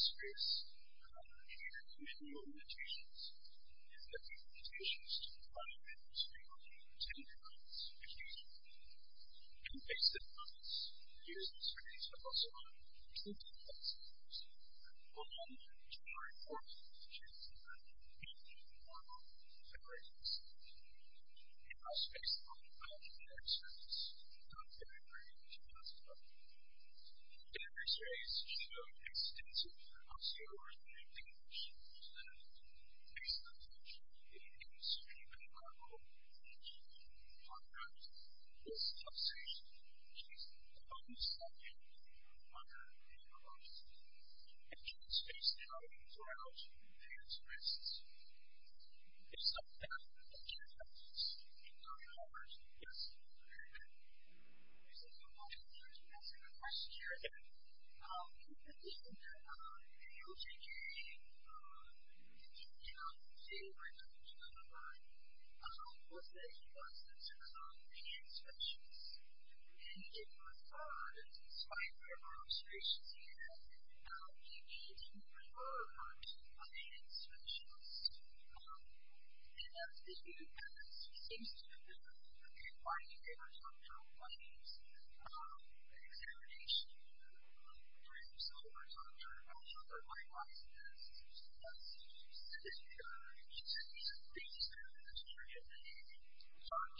serious, complicated, and unusual limitations. These have been limitations to the quality of the house we live in. It's going to cost a huge amount of money. And based on this, it is necessary to have also a complete plan in place. On January 14th, the chance of that being any more than $100,000. The house is based on a five-bedroom exercise. It's not very big, but it's not small. In every space, you need an extensive auxiliary lifting machine. Instead of a base lift machine, you can use a cargo lift machine. On Earth, this is not safe. It's the funnest option. On Earth, we have a lot of stuff. It's just based out of a garage, and there's risks. There's stuff out there. Thank you. Thank you very much. Yes. Okay. There's a few more questions. I'm going to ask you a question here. Okay. In the beginning, the OJJ, the OJJ house, the city where I live, which is on the right, was said to be one of some sort of finance officials. And it was thought, as inspired by our observations here, that the OJJ were some sort of finance officials. And that the city had some sort of good-quality data on general fundings, an examination of the funds over time. And I thought that might rise to this. So that's specific to the OJJ. These are things that the OJJ have been working on. The OJJ,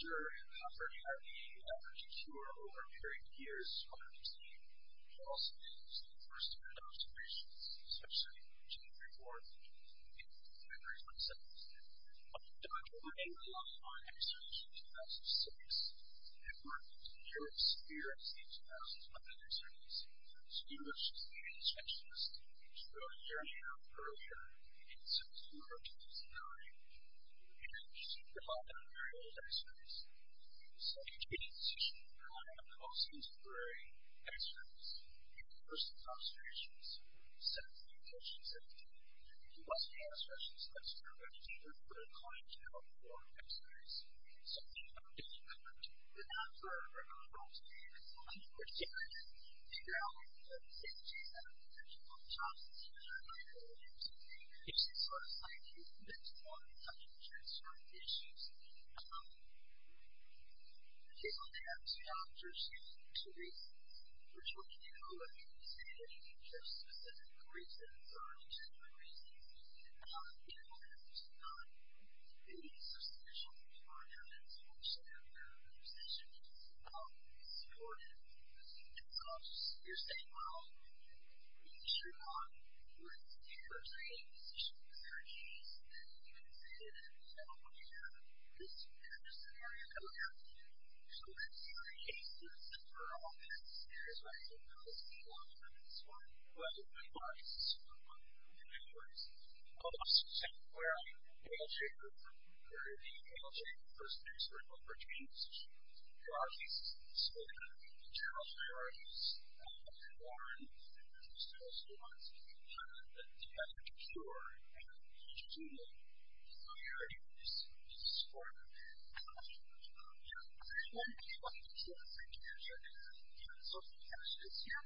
who are over 30 years, have also made some first-hand observations, especially in the January report and February 2017. The OJJ, along with our experts in 2006, have worked with the European Security Agency in 2005, and they certainly seem to have distinguished the intentions that we showed a year and a half earlier in September 2009. And again, we're super-proud of our very old experts. The OJJ has issued a report on the most contemporary experts and first-hand observations in September 2017. The OJJ has also expressed its concern that the OJJ were too inclined to have a broad expertise. So we have been working with them for a number of months, and we're trying to figure out if the OJJ has a potential for the jobs that the OJJ might hold. And since last time, we've been exploring how they can transform the issues that we're facing. Okay, so we have two doctors here for two reasons. First of all, can you go back and say if you have specific reasons or any general reasons in what has been done? These are special requirements which I understand should be supported, because you're saying, well, we should not be working with the OJJ because there are issues, and you can say, well, we have this particular scenario coming up, so let's create a system for all these issues by using the OJJ, and it's fine. Well, the OJJ, this is what we're looking for, is a system where the OJJ or the OJJ first-hand expertise should provide these specific general priorities that we're looking for, and this is what we're looking for, because you have to make sure that you're achieving these priorities which is important. Yeah. I want to talk a little bit about psychiatry. So we have two patients here.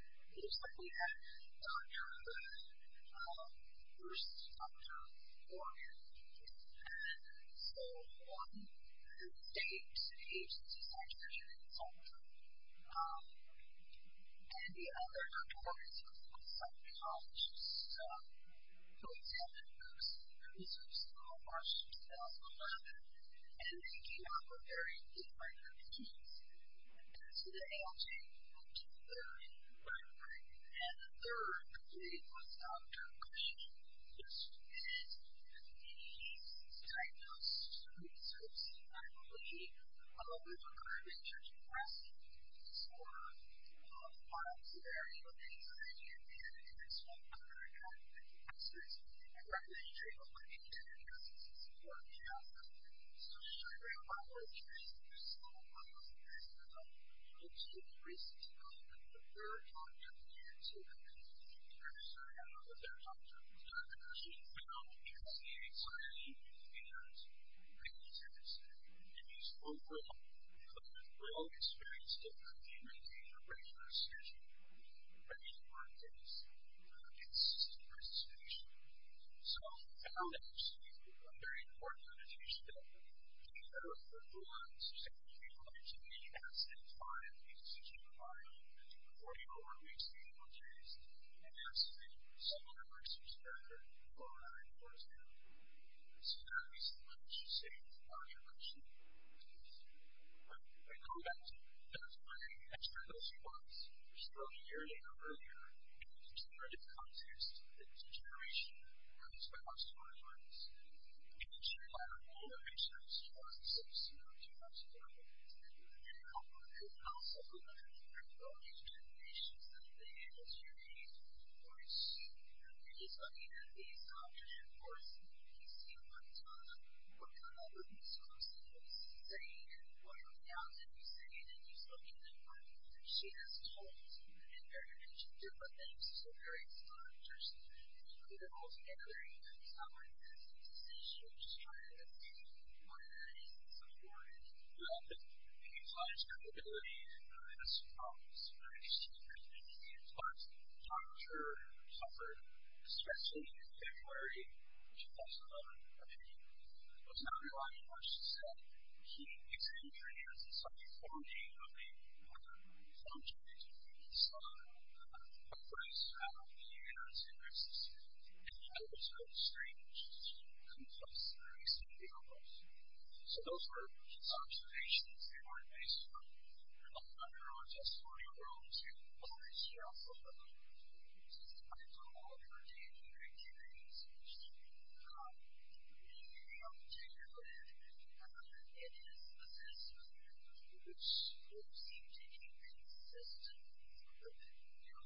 We have Dr. Glenn versus Dr. Morgan, and so one is a state agency psychiatrist and consultant, and the other, Dr. Morgan, is a psychologist, so he's had the most research in the last year, since 2011, and they came up with very different routines. So the OJJ, we'll do their main work group, and the third, which is Dr. Green, is to get these diagnosed resources and hopefully, a lot of these are current research requests for a lot of the products that are in the OJJ, and we have to do this work after we've had the professors and the recommendations from the OJJ and the OJJ's support, and so just to show you a real-life picture, there's several models of this, and it's been recently called the third opt-in to the OJJ, and I don't know if that's opt-in or opt-out, because it's not opt-in, but it is opt-in, and it means overall, we're all experienced in community, and we're ready for a session, and we're ready to practice, and this is a great solution. So I found, actually, a very important annotation that, if you go to the OJJ website, you can find the OJJ model, and you can go to your OJJ's, and ask them for similar research data for example. So that would be similar, I should say, to what I mentioned. But I know that, that's where the next generation was, which is about a year later, or earlier, and it's a generative context, it's a generation, and it's about a story-line. And it's been shared by a lot of patients since, you know, 2011. And also, we've had a lot of these recommendations that the OJJ's, of course, you know, you're just looking at these options, and of course, you can see what, what kind of resources are sustaining, and what are the outcomes, and you say, and then you look at them, and she has told me, and very much a different thing, she's a very smart person, and she put it all together, and it's not like this, it's a decision, she's trying to make, and what it is, and so forth. You know, it implies credibility, and it has some problems, but it's a great opportunity, and it talks, and I'm sure, suffered, especially in February, 2011, I think. I was not relying on what she said, but she examined her years, and some of the founding, of the, what the, founding is, is, what was, how many years, it existed, and how it was so strange, and complex, and recent, and difficult. So those were her observations, they weren't based on, on her own testimony alone, but she, well, she also, she just, I don't know, her daily activities, which, in particular, particularly, in her, in his assessment, which, it seemed to me, consistent, with, you know,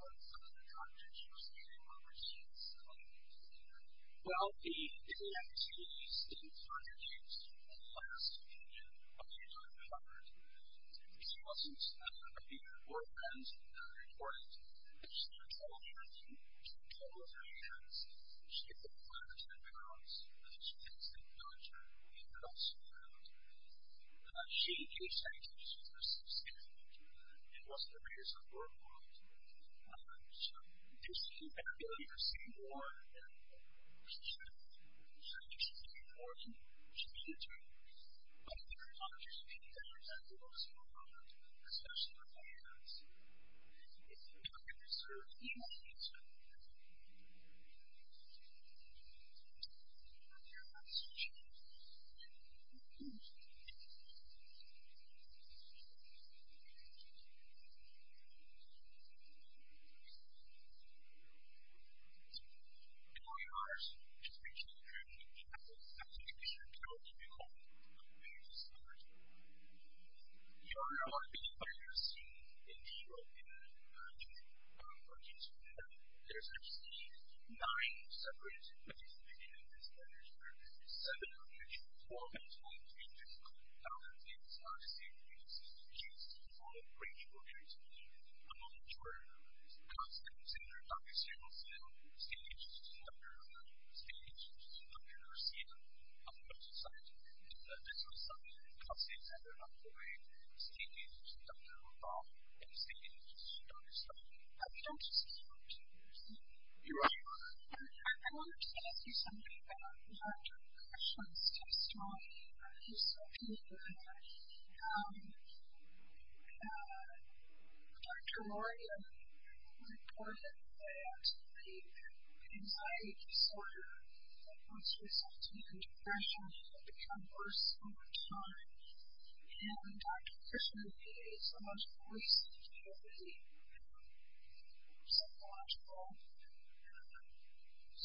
what some of the contributions, and what was she, and some of the things, that were there. Well, the, the activities, in particular, in the last few years, have been uncovered, and, and she wasn't, she just, said about his work friends, that are important, and she told her, and she told her friends, that she ate 5提10 more hours, that she focused her own food, that she focused her own food, and she, you say to me, she said that, this is the truth. It wasn't the reason for her to, to, to disappear, because you see more, than what she said, and it wouldn't have been if she just paid more and she needed to. But her life she suffered, that's what, inherited, from many of her years in India, in Indiane, Pakistan. There's actually, Nine separate, participation on this targets. seven on this, four more times, in just close downs in. Ah... the same agencies, shes, ugh great book that has been done, among, which was. Common Center Dr Simon Zeil, staged as a destacable, stage actually, absent see on Facebook society, And in that. And some stuff that the, Common Center responded, the way, the stages, don't know about, and stages, don't study. But we don't just talk to, you see. You're right. I, I wanted to ask you something, about, about your questions, to start. There's something, that, um, ah, Dr Lori, reported, that, the, anxiety disorder, that puts yourself, into depression, and become worse, over time. And, um, Dr. Krishnan, is almost always, speaking of the, um, psychological, um, discussions. So, why would that, reality, be most, offensive? Um, I think, the, the, the impact, um, can, can, can, can, can, can, can, can, can, can, can lead you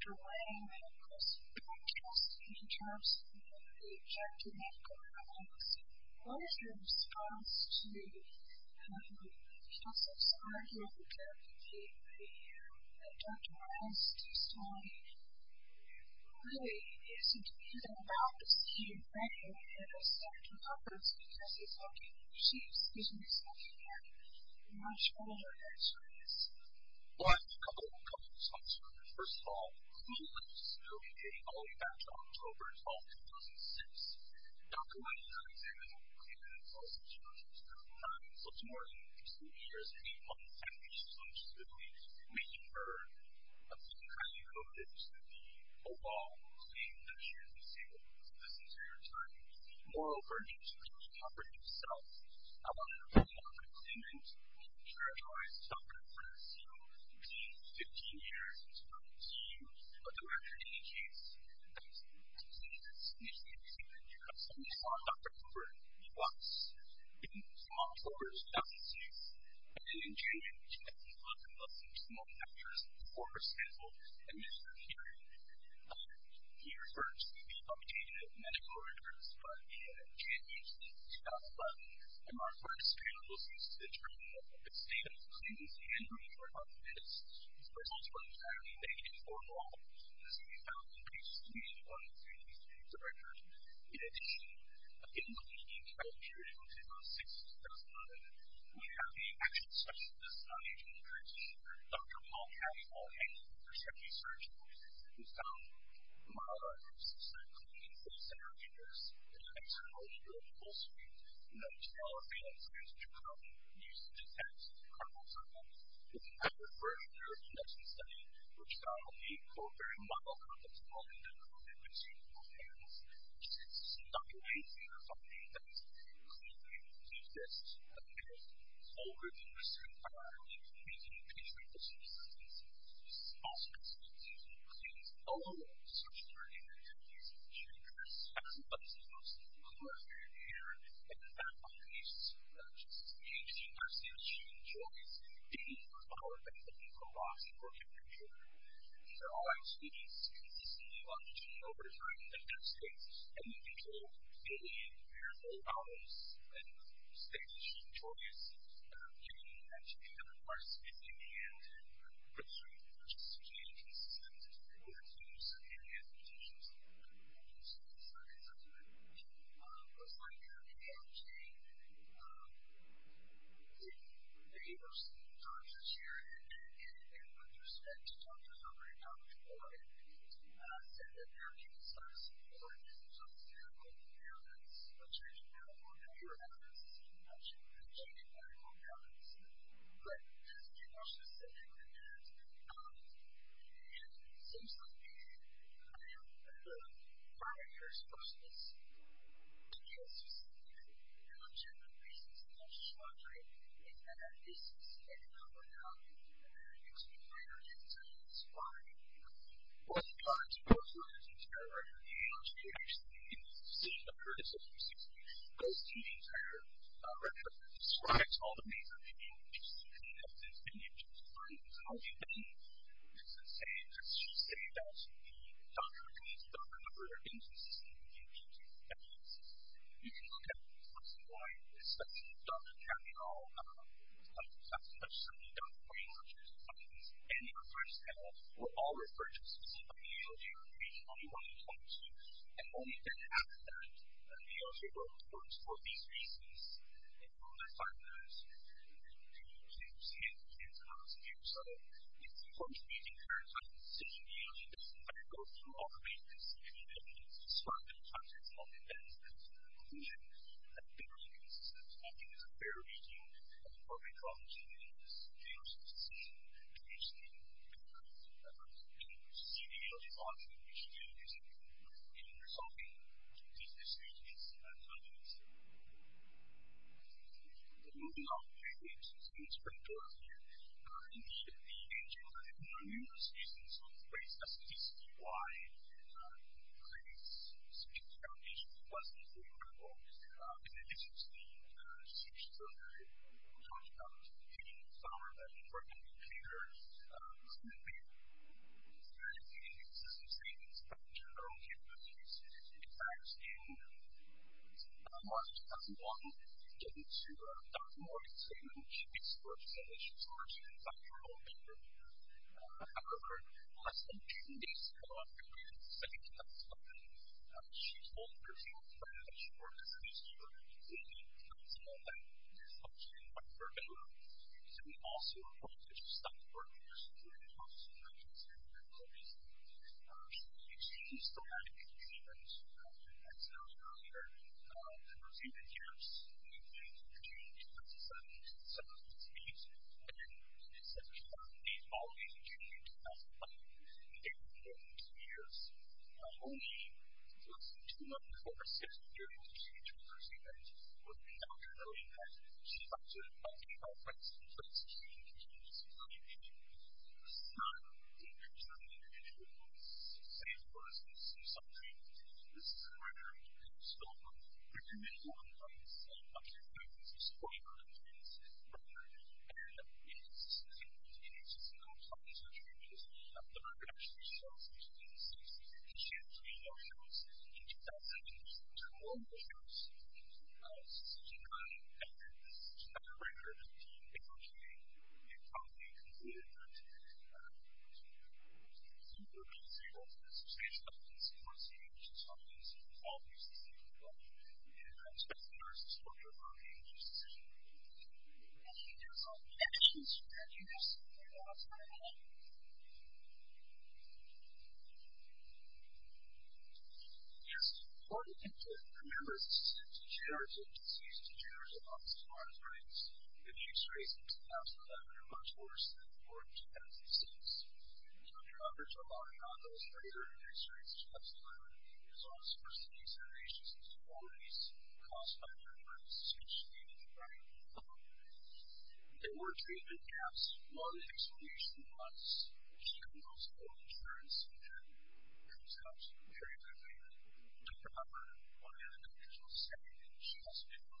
into, a, a real, But, uh, just one last question for Dr. Krishnan. quently, Dr. Krishnan, is a blood doctor, and Dr. Tillman is a Dr. is a Points Intestinal we, is that Dr. Krishnan, and a real, lady knowledge about how the brain works uh, and, is, Uh, her office is uh, Dr. Penta, and um, I received from Dr. Krishnan apologizing second minute let's we say we about Mrs. Just, month ago her pregnancy was a real change in her quality of life um and seeing Dr. Wang and of course protesting in terms of the objective of Coronavirus what was her response to um Joseph's argument that the Dr. Wang's testimony really isn't even about the same thing as a second conference because it's looking she's she's looking at much earlier answer is well I have a couple of concerns first of all Dr. Wang's testimony dates all the way back to October 12, 2006 Dr. Wang's unexamined testimony is also challenging to her mind so tomorrow in two years and eight months I think she's going to be making her being highly